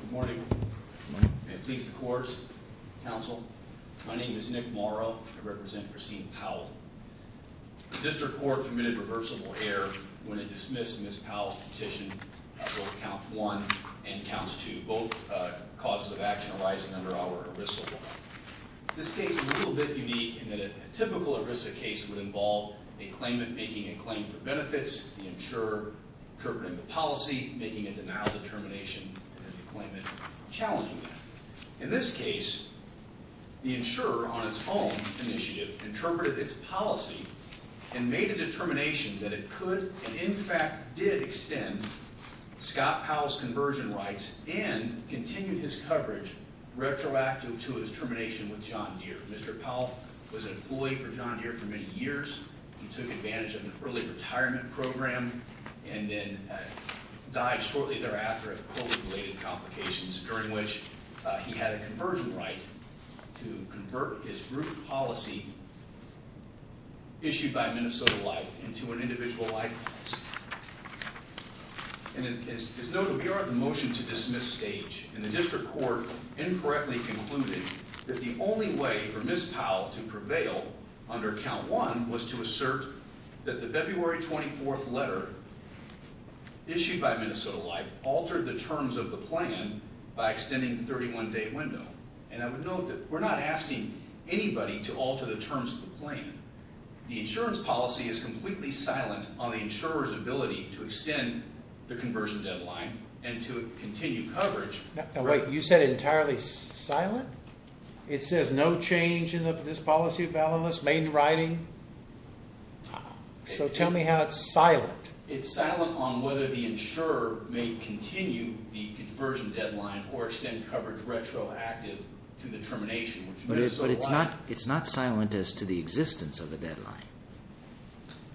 Good morning. May it please the courts, counsel, my name is Nick Morrow. I represent Christine Powell. The district court committed reversible error when it dismissed Ms. Powell's petition for count one and counts two. Both causes of action arising under our ERISA law. This case is a little bit unique in that a typical ERISA case would involve a claimant making a claim for benefits, the claimant challenging that. In this case, the insurer on its own initiative interpreted its policy and made a determination that it could and in fact did extend Scott Powell's conversion rights and continued his coverage retroactive to his termination with John Deere. Mr. Powell was an employee for John Deere for many years. He took advantage of an early retirement program and then died shortly thereafter of COVID-related complications during which he had a conversion right to convert his group policy issued by Minnesota Life into an individual life policy. And as noted, we are at the motion to dismiss stage and the district court incorrectly concluded that the only way for Ms. Powell to issue by Minnesota Life altered the terms of the plan by extending the 31 day window. And I would note that we're not asking anybody to alter the terms of the plan. The insurance policy is completely silent on the insurer's ability to extend the conversion deadline and to continue coverage. Now wait, you said entirely silent? It says no change in this policy balance, main writing. So tell me how it's silent. It's silent on whether the insurer may continue the conversion deadline or extend coverage retroactive to the termination. But it's not silent as to the existence of the deadline.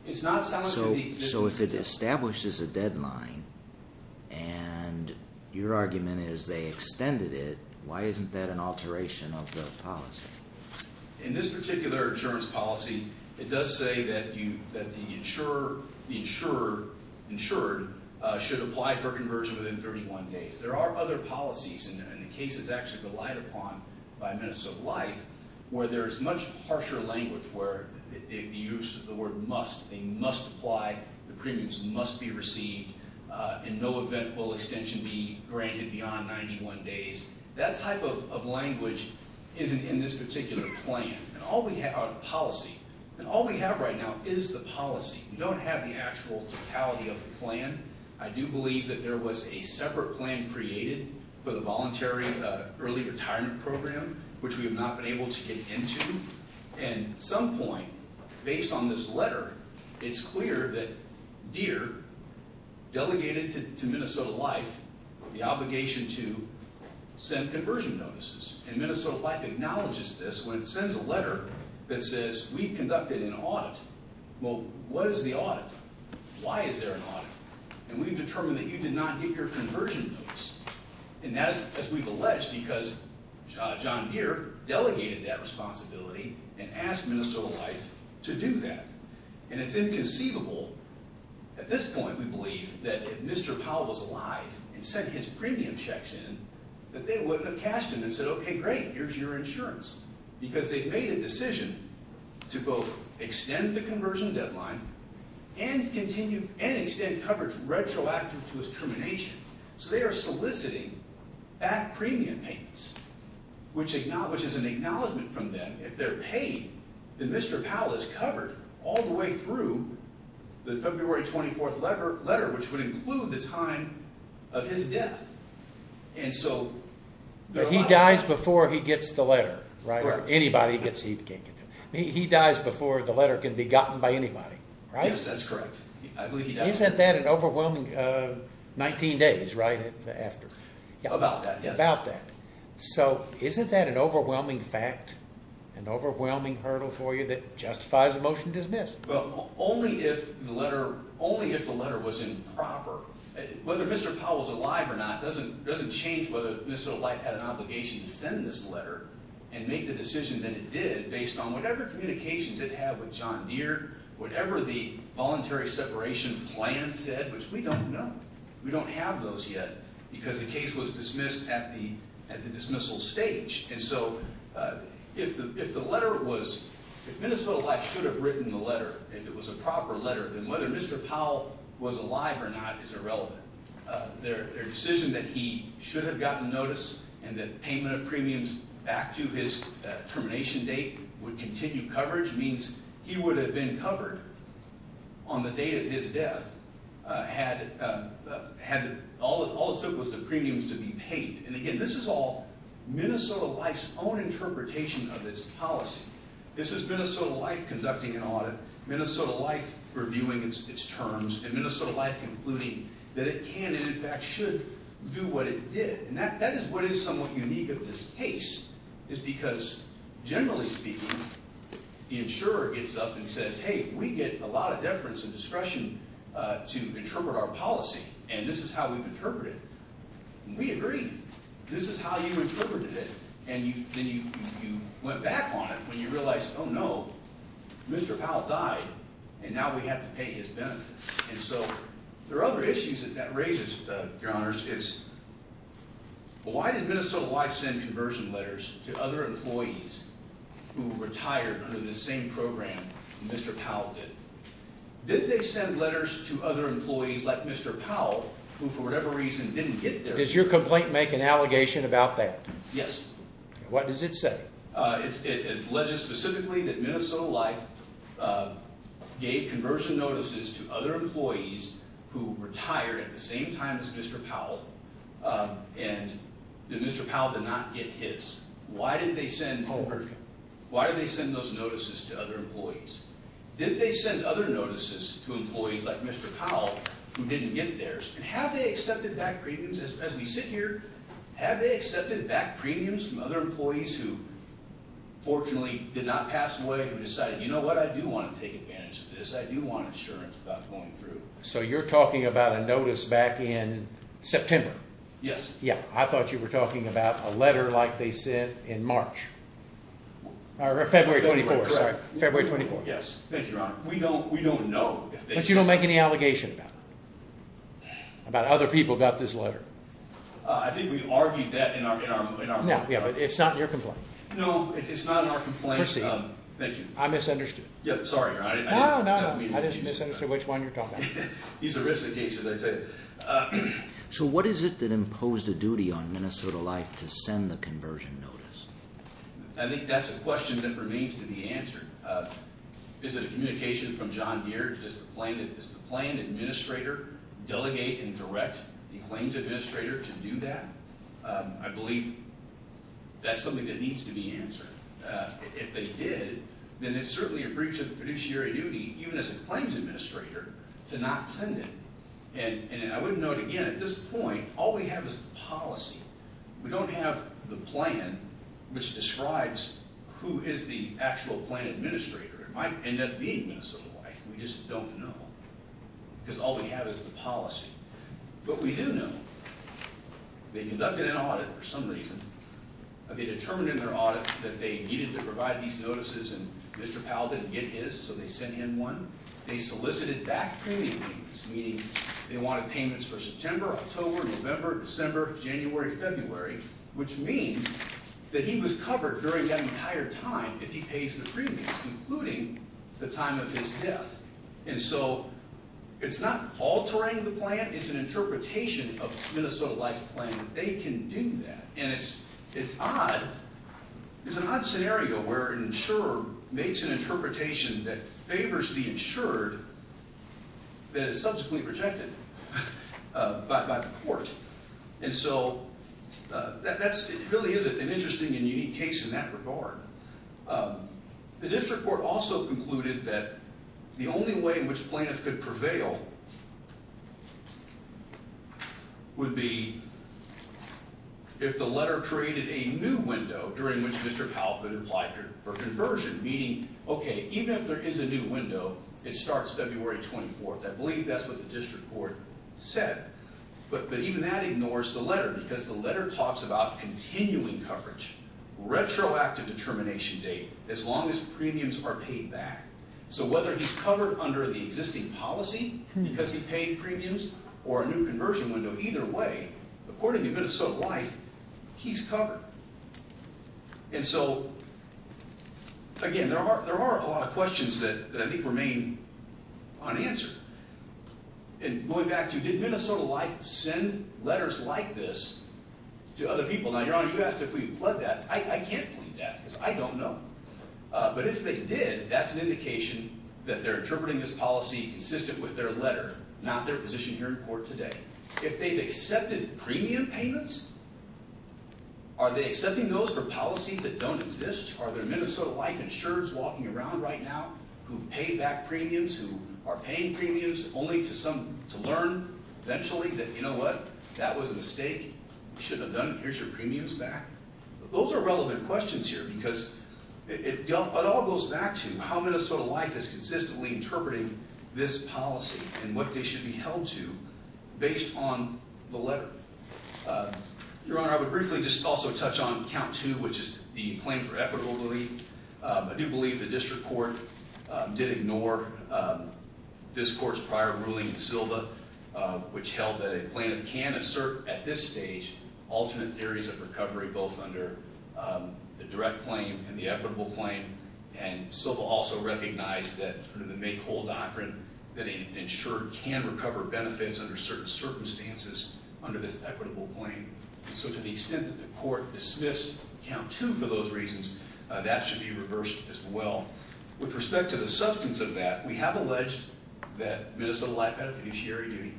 It's not silent. So if it establishes a deadline and your argument is they extended it, why isn't that an alteration of the policy? In this particular insurance policy, it does say that you that the insurer, the insured, should apply for conversion within 31 days. There are other policies, and the case is actually relied upon by Minnesota Life, where there is much harsher language where the use of the word must, they must apply, the premiums must be received, in no event will extension be granted beyond 91 days. That type of language isn't in this particular plan. And all we have, our policy, and all we have right now is the policy. We don't have the actual totality of the plan. I do believe that there was a separate plan created for the voluntary early retirement program, which we have not been able to get into. And at some point, based on this letter, it's clear that DEER, delegated to Minnesota Life, the obligation to send conversion notices. And Minnesota Life acknowledges this when it sends a letter that says we conducted an audit. Well, what is the audit? Why is there an audit? And we've determined that you did not get your conversion notice. And that is, as we've alleged, because John Deere delegated that responsibility and asked Minnesota Life to do that. And it's inconceivable, at this point, we believe, that if Mr. Powell was alive and sent his premium checks in, that they wouldn't have cashed in and said, okay, great, here's your insurance. Because they've made a decision to both extend the conversion deadline and extend coverage retroactive to his termination. So they are soliciting back premium payments, which acknowledges an acknowledgment from them, if they're paid, that Mr. Powell is covered all the way through the February 24th letter, which would include the time of his death. And so... He dies before he gets the letter, right? Or anybody gets it. He dies before the letter can be gotten by anybody, right? Yes, that's correct. Isn't that an overwhelming... 19 days, right? About that, yes. So isn't that an overwhelming fact, an overwhelming hurdle for you that justifies a motion to dismiss? Well, only if the letter was improper. Whether Mr. Powell's alive or not doesn't change whether Minnesota Life had an obligation to send this letter and make the decision that it did, based on whatever communications it had with John Deere, whatever the voluntary separation plan said, which we don't know. We don't have those yet, because the case was dismissed at the dismissal stage. And so, if the letter was... If Minnesota Life should have written the letter, if it was a proper letter, then whether Mr. Powell was alive or not is irrelevant. Their decision that he should have gotten notice and that payment of premiums back to his termination date would continue coverage means he would have been covered on the date of his death, had all it took was the premiums to be paid. And again, this is all Minnesota Life's own interpretation of its policy. This is Minnesota Life conducting an audit, Minnesota Life reviewing its terms, and Minnesota Life concluding that it can and in fact should do what it did. And that is what is somewhat unique of this case, is because, generally speaking, the insurer gets up and says, hey, we get a lot of deference and discretion to how we've interpreted it. And we agree. This is how you interpreted it, and you went back on it when you realized, oh no, Mr. Powell died, and now we have to pay his benefits. And so, there are other issues that that raises, Your Honors. It's, well, why did Minnesota Life send conversion letters to other employees who retired under this same program Mr. Powell did? Did they send letters to other employees like Mr. Powell who, for whatever reason, didn't get there? Does your complaint make an allegation about that? Yes. What does it say? It alleges specifically that Minnesota Life gave conversion notices to other employees who retired at the same time as Mr. Powell, and that Mr. Powell did not get his. Why did they send those notices to other employees? Did they send other notices to employees like Mr. Powell who didn't get theirs? And have they accepted back premiums, as we sit here, have they accepted back premiums from other employees who, fortunately, did not pass away, who decided, you know what, I do want to take advantage of this. I do want insurance about going through. So you're talking about a notice back in September? Yes. Yeah, I thought you were talking about a letter like they sent in March, or February 24th, sorry, February 24th. Yes, thank you, Your Honor. We don't, we don't know. But you don't make any allegation about it? About other people got this letter? I think we argued that in our, yeah, but it's not your complaint. No, it's not our complaint. Proceed. Thank you. I misunderstood. Yeah, sorry, Your Honor. No, no, no, I just misunderstood which one you're talking about. These are risked cases, I say. So what is it that imposed a duty on Minnesota Life to send the conversion notice? I think that's a question that remains to be answered. Is it a communication from John Deere? Does the planned administrator delegate and direct a claims administrator to do that? I believe that's something that needs to be answered. If they did, then it's certainly a breach of the fiduciary duty, even as a claims administrator, to not send it. And I would note again, at this point, all we have is policy. We don't have the plan which describes who is the actual plan administrator. It might end up being Minnesota Life. We just don't know, because all we have is the policy. But we do know they conducted an audit for some reason. They determined in their audit that they needed to provide these notices and Mr. Powell didn't get his, so they sent in one. They solicited back-paying payments, meaning they wanted payments for September, October, November, December, January, February, which means that he was covered during that entire time if he pays the premiums, including the time of his death. And so it's not altering the plan, it's an interpretation of Minnesota Life's plan that they can do that. And it's odd. There's an odd scenario where an insurer makes an interpretation that favors the insured that is subsequently rejected by the court. And so that really is an interesting and unique case in that regard. The district court also concluded that the only way in which plaintiffs could prevail would be if the letter created a new window during which Mr. Powell could apply for conversion, meaning, okay, even if there is a new window, it starts February 24th. I believe that's what the district court said. But even that ignores the letter because the letter talks about continuing coverage, retroactive determination date, as long as premiums are paid back. So whether he's covered under the existing policy because he paid premiums or a new conversion window, either way, according to Minnesota Life, he's covered. And so, again, there are a lot of questions that I think remain unanswered. And going back to, did Minnesota Life send letters like this to other people? Now, Your Honor, you asked if we pled that. I can't believe that because I don't know. But if they did, that's an indication that they're interpreting this policy consistent with their letter, not their position here in court today. If they've accepted premium payments, are they accepting those for policies that don't exist? Are there Minnesota Life insurers walking around right now who've paid back premiums, who are paying premiums only to learn eventually that, you know what, that was a mistake, we shouldn't have done it, here's your premiums back? Those are relevant questions here because it all goes back to how Minnesota Life is consistently interpreting this policy and what they should be held to based on the letter. Your Honor, I would briefly just also touch on count two, which is the claim for equitable relief. I do believe the district court did ignore this court's prior ruling in Silva, which held that a plaintiff can assert at this stage alternate theories of recovery, both under the direct claim and the make-or-break doctrine that an insurer can recover benefits under certain circumstances under this equitable claim. So to the extent that the court dismissed count two for those reasons, that should be reversed as well. With respect to the substance of that, we have alleged that Minnesota Life had a fiduciary duty.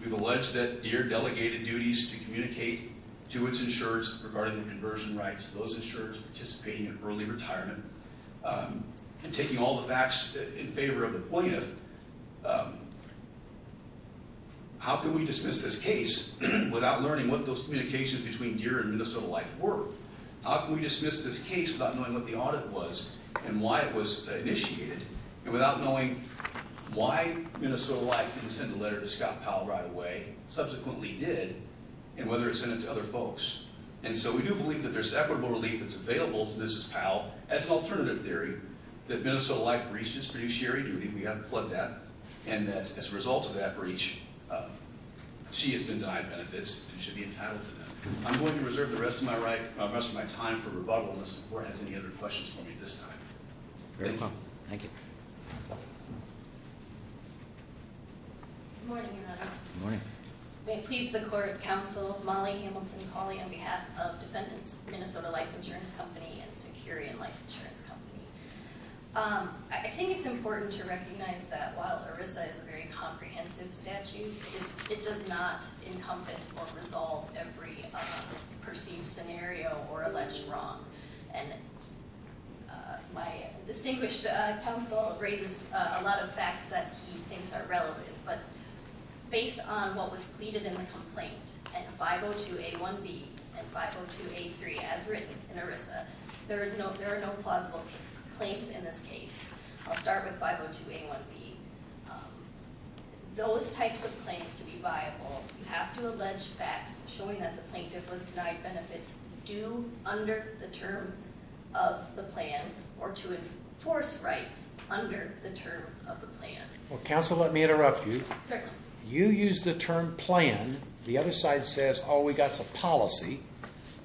We've alleged that DEER delegated duties to communicate to its insurers regarding the conversion rights of those insurers participating in early retirement and taking all the facts in favor of the plaintiff. How can we dismiss this case without learning what those communications between DEER and Minnesota Life were? How can we dismiss this case without knowing what the audit was and why it was initiated and without knowing why Minnesota Life didn't send a letter to Scott Powell right away, subsequently did, and whether it sent it to other folks? And so we do believe that there's equitable relief that's filed as an alternative theory that Minnesota Life breached its fiduciary duty. We have pled that and that as a result of that breach, she has been denied benefits and should be entitled to them. I'm going to reserve the rest of my rest of my time for rebuttal unless the court has any other questions for me at this time. Very well, thank you. Good morning, Your Honor. Good morning. May it please the Court, Counsel, Molly Hamilton, and Pauline on behalf of Defendants, Minnesota Life Insurance Company, and Securian Life Insurance Company. I think it's important to recognize that while ERISA is a very comprehensive statute, it does not encompass or resolve every perceived scenario or alleged wrong. And my distinguished counsel raises a lot of facts that he thinks are relevant, but based on what was pleaded in the 502a1b and 502a3 as written in ERISA, there are no plausible claims in this case. I'll start with 502a1b. Those types of claims to be viable have to allege facts showing that the plaintiff was denied benefits due under the terms of the plan or to enforce rights under the terms of the plan. Well, counsel, let me interrupt you. You use the term plan. The other side says, oh, we got some policy.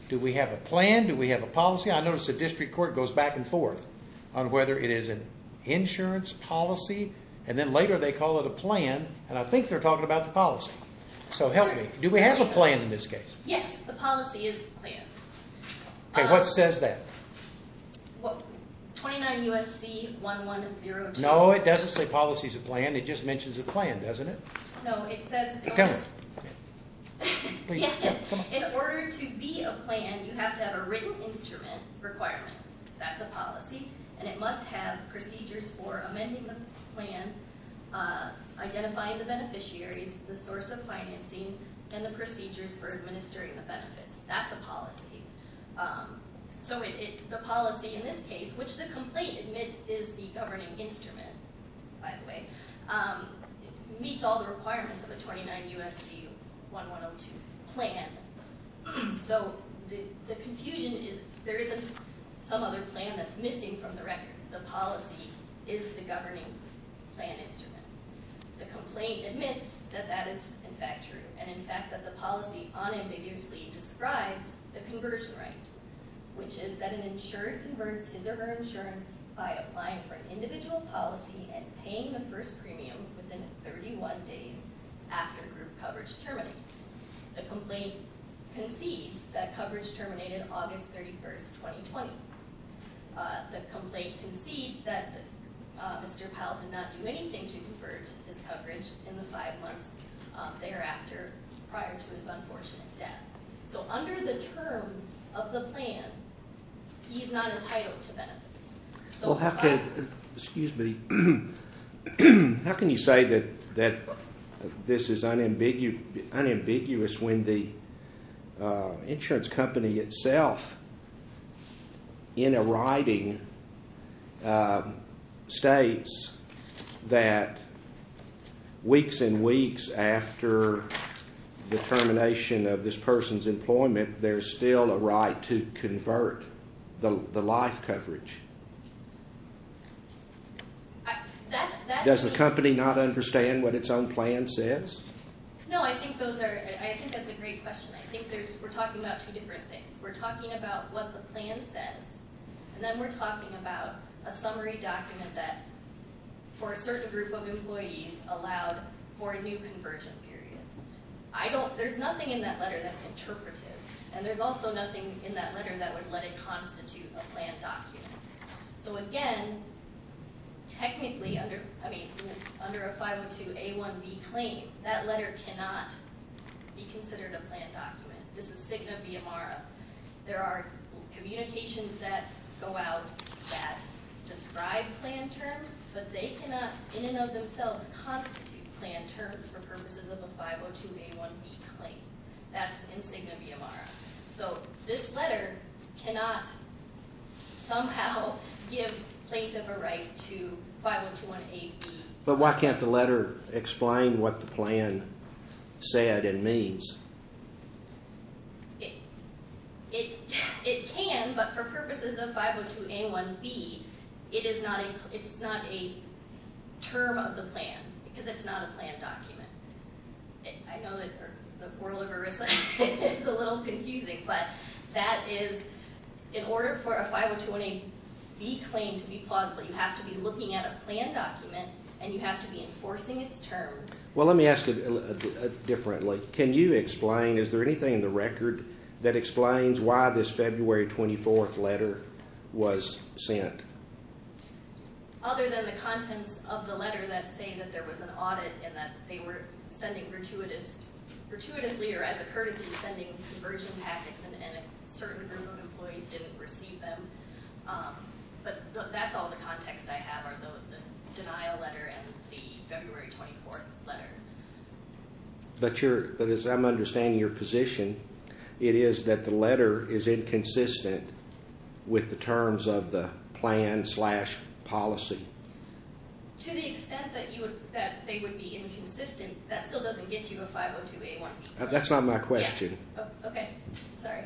Do we have a plan? Do we have a policy? I notice the district court goes back and forth on whether it is an insurance policy, and then later they call it a plan, and I think they're talking about the policy. So help me. Do we have a plan in this case? Yes, the policy is the plan. Okay, what says that? 29 U.S.C. 1102. No, it doesn't say policy is a plan. It just mentions a plan, doesn't it? No, it says in order to be a plan, you have to have a written instrument requirement. That's a policy, and it must have procedures for amending the plan, identifying the beneficiaries, the source of financing, and the procedures for administering the benefits. That's a policy. So the policy in this case, which the complaint admits is the governing instrument, by the way, meets all the requirements of a 29 U.S.C. 1102 plan. So the confusion is there isn't some other plan that's missing from the record. The policy is the governing plan instrument. The complaint admits that that is in fact true, and in fact that the policy unambiguously describes the conversion right, which is that an insured converts his or her insurance by applying for an individual policy and paying the first after group coverage terminates. The complaint concedes that coverage terminated August 31st, 2020. The complaint concedes that Mr. Powell did not do anything to convert his coverage in the five months thereafter prior to his unfortunate death. So under the terms of the plan, he's not entitled to benefits. Well, how can you say that this is unambiguous when the insurance company itself, in a writing, states that weeks and weeks after the termination of this person's employment, there's still a right to convert the life coverage? Does the company not understand what its own plan says? No, I think that's a great question. I think we're talking about two different things. We're talking about what the plan says, and then we're talking about a summary document that for a certain group of employees allowed for a new conversion period. I don't, there's nothing in that letter that's interpretive, and there's also nothing in that letter that would let it constitute a plan document. So again, technically under, I mean, under a 502A1B claim, that letter cannot be considered a plan document. This is signa via mara. There are communications that go out that describe plan terms, but they cannot in and of themselves constitute plan terms for purposes of a 502A1B claim. That's in signa via mara. So this letter cannot somehow give plaintiff a right to 502A1B. But why can't the letter explain what the plan said and means? It can, but for purposes of 502A1B, it is not a term of the plan, because it's not a plan document. I know that the world of ERISA is a little confusing, but that is, in order for a 502A1B claim to be plausible, you have to be looking at a plan document, and you have to be enforcing its terms. Well, let me ask it differently. Can you explain, is there anything in the record that explains why this February 24th letter was sent? Other than the contents of the letter that say that there was an audit and that they were sending gratuitously or as a courtesy, sending conversion packets, and a certain group of employees didn't receive them. But that's all the context I have are the denial letter and the February 24th letter. But as I'm understanding your position, it is that the letter is inconsistent with the terms of the plan-slash-policy. To the extent that they would be inconsistent, that still doesn't get you a 502A1B claim. That's not my question. Oh, okay. Sorry.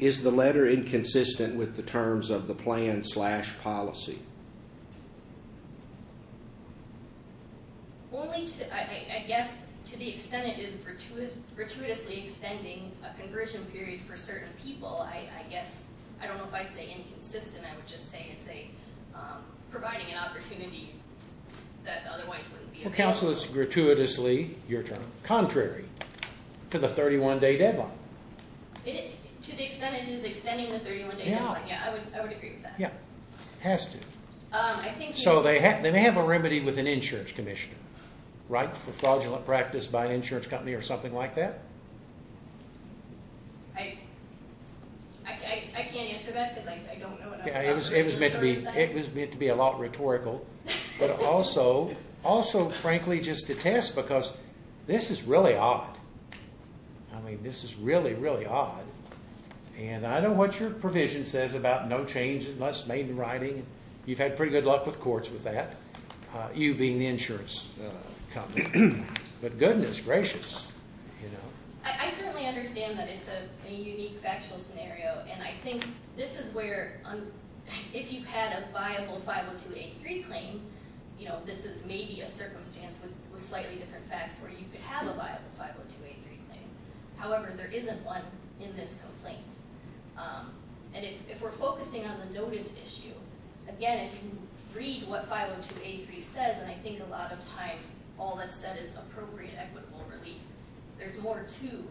Is the letter inconsistent with the terms of the plan-slash-policy? Only to, I guess, to the extent it is gratuitously extending a conversion period for certain people. I guess, I don't know if I'd say inconsistent, I would just say it's providing an opportunity that otherwise wouldn't be available. It counsels gratuitously, your turn, contrary to the 31-day deadline. To the extent it is extending the 31-day deadline, yeah, I would agree with that. Yeah, it has to. So they have a remedy with an insurance commissioner, right? For fraudulent practice by an insurance company or something like that? I can't answer that because I don't know what I'm talking about. It was meant to be a lot rhetorical. But also, frankly, just to test because this is really odd. I mean, this is really, really odd. And I know what your provision says about no change unless made in writing. You've had pretty good luck with courts with that, you being the insurance company. But goodness gracious. I certainly understand that it's a unique factual scenario. And I think this is where, if you've had a viable 502A3 claim, this is maybe a circumstance with slightly different facts where you could have a viable 502A3 claim. However, there isn't one in this complaint. And if we're focusing on the notice issue, again, if you read what 502A3 says, and I think a lot of times all it says is appropriate equitable relief. There's more to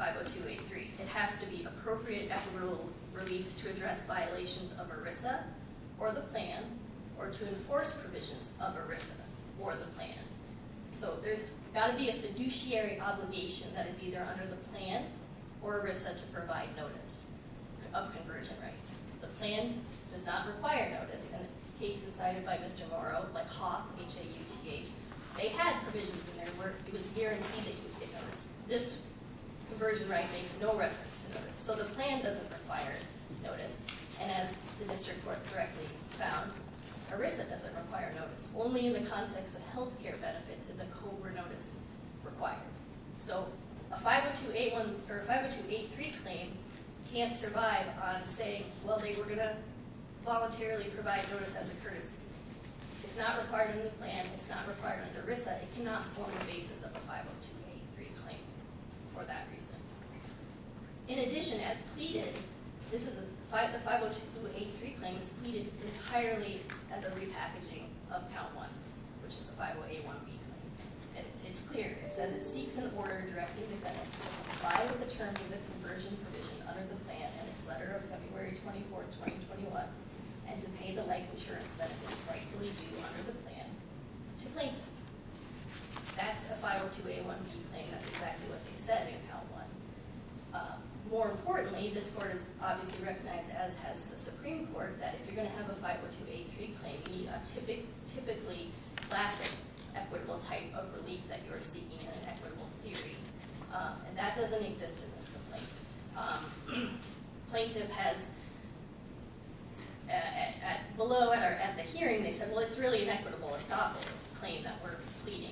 502A3. It has to be appropriate equitable relief to address violations of ERISA or the plan or to enforce provisions of ERISA or the plan. So there's got to be a fiduciary obligation that is either under the plan or ERISA to provide notice of conversion rights. The plan does not require notice. In cases cited by Mr. Morrow, like HAUTH, H-A-U-T-H, they had provisions in there where it was guaranteed that you'd get notice. This conversion right makes no reference to notice. So the plan doesn't require notice. And as the district court correctly found, ERISA doesn't require notice. Only in the context of health care benefits is a COBRA notice required. So a 502A3 claim can't survive on saying, well, they were going to voluntarily provide notice as a courtesy. It's not required in the plan. It's not required under ERISA. It cannot form the basis of a 502A3 claim for that reason. In addition, as pleaded, the 502A3 claim is pleaded entirely as a repackaging of count one, which is a 50A1B claim. It's clear. It says it seeks an order directing defendants to comply with the terms of the conversion provision under the plan in its letter of February 24, 2021, and to pay the life insurance benefits rightfully due under the plan to plaintiff. That's a 502A1B claim. That's exactly what they said in count one. More importantly, this court has obviously recognized, as has the Supreme Court, that if you're going to have a 502A3 claim, you need a typically classic equitable type of relief that you're seeking in an equitable theory. And that doesn't exist in this complaint. Plaintiff has, at the hearing, they said, well, it's really an equitable estoppel claim that we're pleading.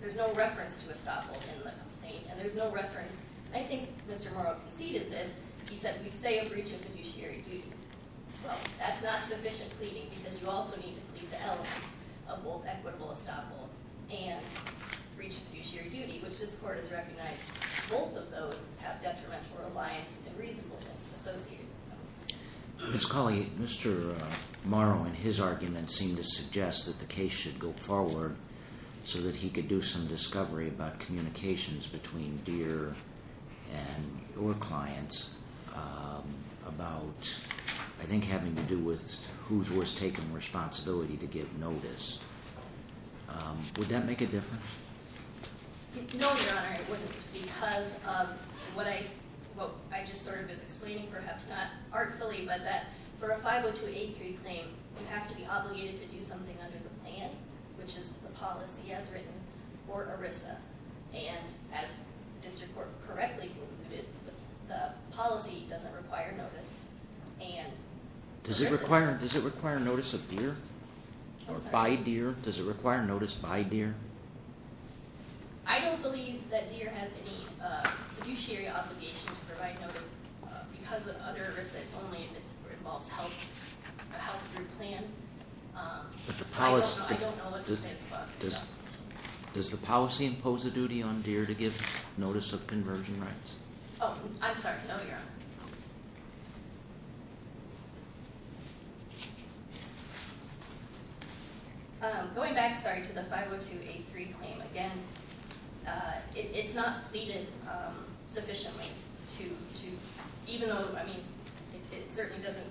There's no reference to estoppel in the complaint, and there's no reference. I think Mr. Morrow conceded this. He said, we say a breach of fiduciary duty. Well, that's not sufficient pleading because you also need to plead the elements of both equitable estoppel and breach of fiduciary duty, which this court has recognized both of those have detrimental reliance and reasonableness associated with them. Ms. Cawley, Mr. Morrow, in his argument, seemed to suggest that the case should go forward so that he could do some discovery about communications between Deere and your clients about, I think, having to do with who was taking responsibility to give notice. Would that make a difference? No, Your Honor, it wouldn't because of what I just sort of was explaining, perhaps not artfully, but that for a 502A3 claim, you have to be obligated to do something under the plan, which is the policy as written, or ERISA. And as the district court correctly concluded, the policy doesn't require notice. Does it require notice of Deere or by Deere? Does it require notice by Deere? I don't believe that Deere has any fiduciary obligation to provide notice because of under ERISA. It's only if it involves the health of your plan. I don't know what defense clause it is. Does the policy impose a duty on Deere to give notice of conversion rights? Oh, I'm sorry. No, Your Honor. Going back, sorry, to the 502A3 claim again, it's not pleaded sufficiently to, even though, I mean, it certainly doesn't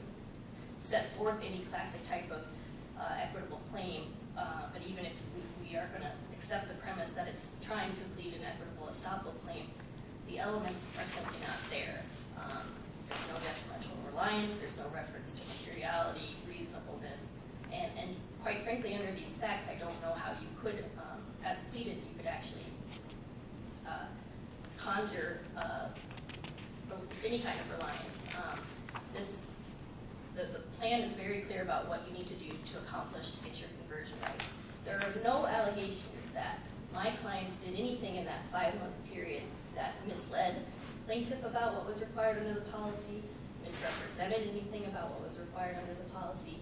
set forth any classic type of equitable claim, but even if we are going to accept the premise that it's trying to plead an equitable estoppel claim, the elements are simply not there. There's no detrimental reliance. There's no reference to materiality, reasonableness. And quite frankly, under these facts, I don't know how you could, as pleaded, you could actually conjure any kind of reliance. The plan is very clear about what you need to do to accomplish to get your conversion rights. There are no allegations that my clients did anything in that five-month period that misled plaintiff about what was required under the policy, misrepresented anything about what was required under the policy,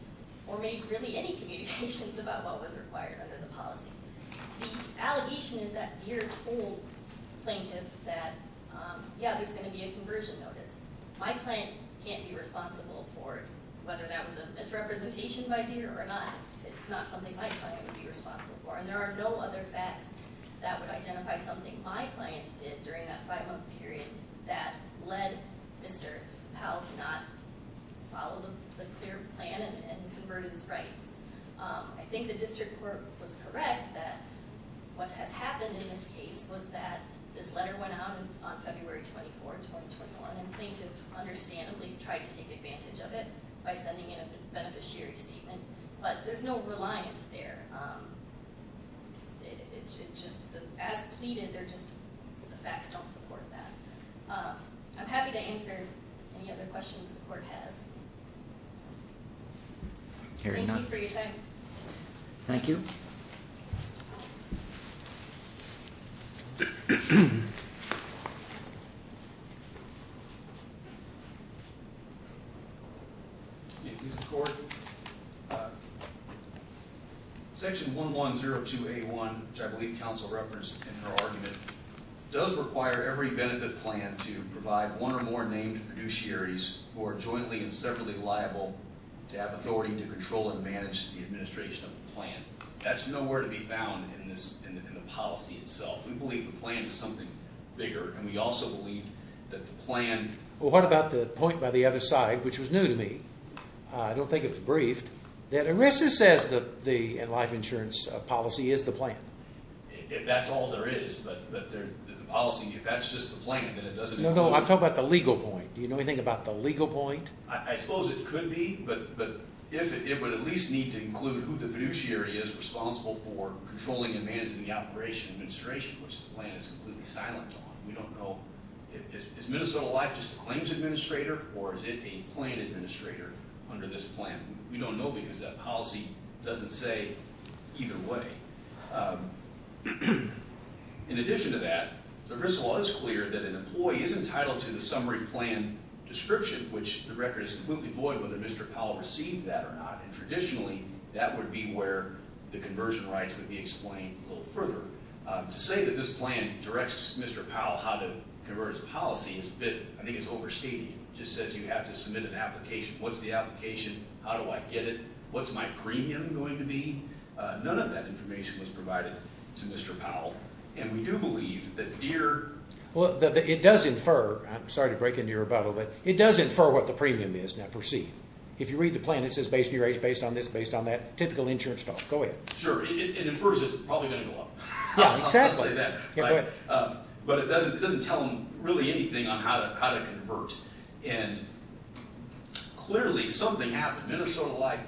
or made really any communications about what was required under the policy. The allegation is that Deere told plaintiff that, yeah, there's going to be a conversion notice. My client can't be responsible for whether that was a misrepresentation by Deere or not. It's not something my client would be responsible for. And there are no other facts that would identify something my clients did during that five-month period that led Mr. Powell to not follow the clear plan and convert his rights. I think the district court was correct that what has happened in this case was that this letter went out on February 24, 2021, and plaintiff understandably tried to take advantage of it by sending in a beneficiary statement. But there's no reliance there. As pleaded, the facts don't support that. I'm happy to answer any other questions the court has. Thank you for your time. Thank you. Thank you. Section 1102A1, which I believe counsel referenced in her argument, does require every benefit plan to provide one or more named fiduciaries who are jointly and separately liable to have authority to control and manage the administration of the plan. That's nowhere to be found in the policy itself. We believe the plan is something bigger, and we also believe that the plan... Well, what about the point by the other side, which was new to me? I don't think it was briefed. That ERISA says the life insurance policy is the plan. If that's all there is, but the policy, if that's just the plan, then it doesn't include... No, no, I'm talking about the legal point. Do you know anything about the legal point? I suppose it could be, but it would at least need to include who the fiduciary is responsible for controlling and managing the operation and administration, which the plan is completely silent on. We don't know. Is Minnesota Life just a claims administrator, or is it a plan administrator under this plan? We don't know because that policy doesn't say either way. In addition to that, the ERISA law is clear that an employee is entitled to the summary plan description, which the record is completely void whether Mr. Powell received that or not. Traditionally, that would be where the conversion rights would be explained a little further. To say that this plan directs Mr. Powell how to convert his policy, I think it's overstating it. It just says you have to submit an application. What's the application? How do I get it? What's my premium going to be? None of that information was provided to Mr. Powell, and we do believe that Deere... It does infer, I'm sorry to break into your rebuttal, but it does infer what the premium is. Now proceed. If you read the plan, it says based on your age, based on this, based on that. Typical insurance talk. Go ahead. Sure. It infers it's probably going to go up. Yes, exactly. I'll say that. But it doesn't tell him really anything on how to convert. And clearly something happened. Minnesota Life,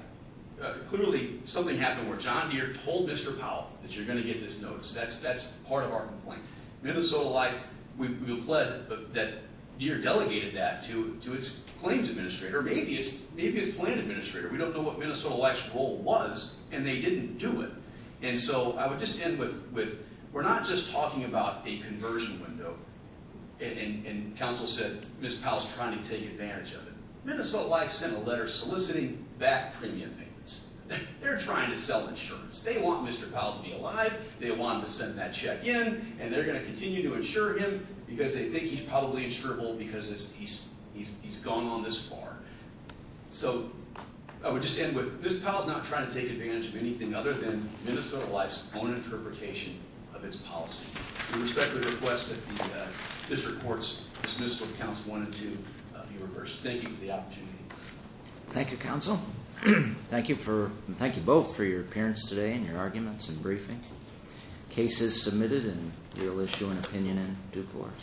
clearly something happened where John Deere told Mr. Powell that you're going to get this notice. That's part of our complaint. Minnesota Life, we've pled that Deere delegated that to its claims administrator. Maybe it's its plan administrator. We don't know what Minnesota Life's role was, and they didn't do it. And so I would just end with, we're not just talking about a conversion window. And counsel said, Mr. Powell's trying to take advantage of it. Minnesota Life sent a letter soliciting back premium payments. They're trying to sell insurance. They want Mr. Powell to be alive. They want him to send that check in. And they're going to continue to insure him because they think he's probably insurable because he's gone on this far. So I would just end with, Mr. Powell's not trying to take advantage of anything other than Minnesota Life's own interpretation of its policy. We respectfully request that this report's dismissed with counsel one and two. Thank you for the opportunity. Thank you, counsel. Thank you both for your appearance today and your arguments and briefing. Case is submitted, and we will issue an opinion in due course.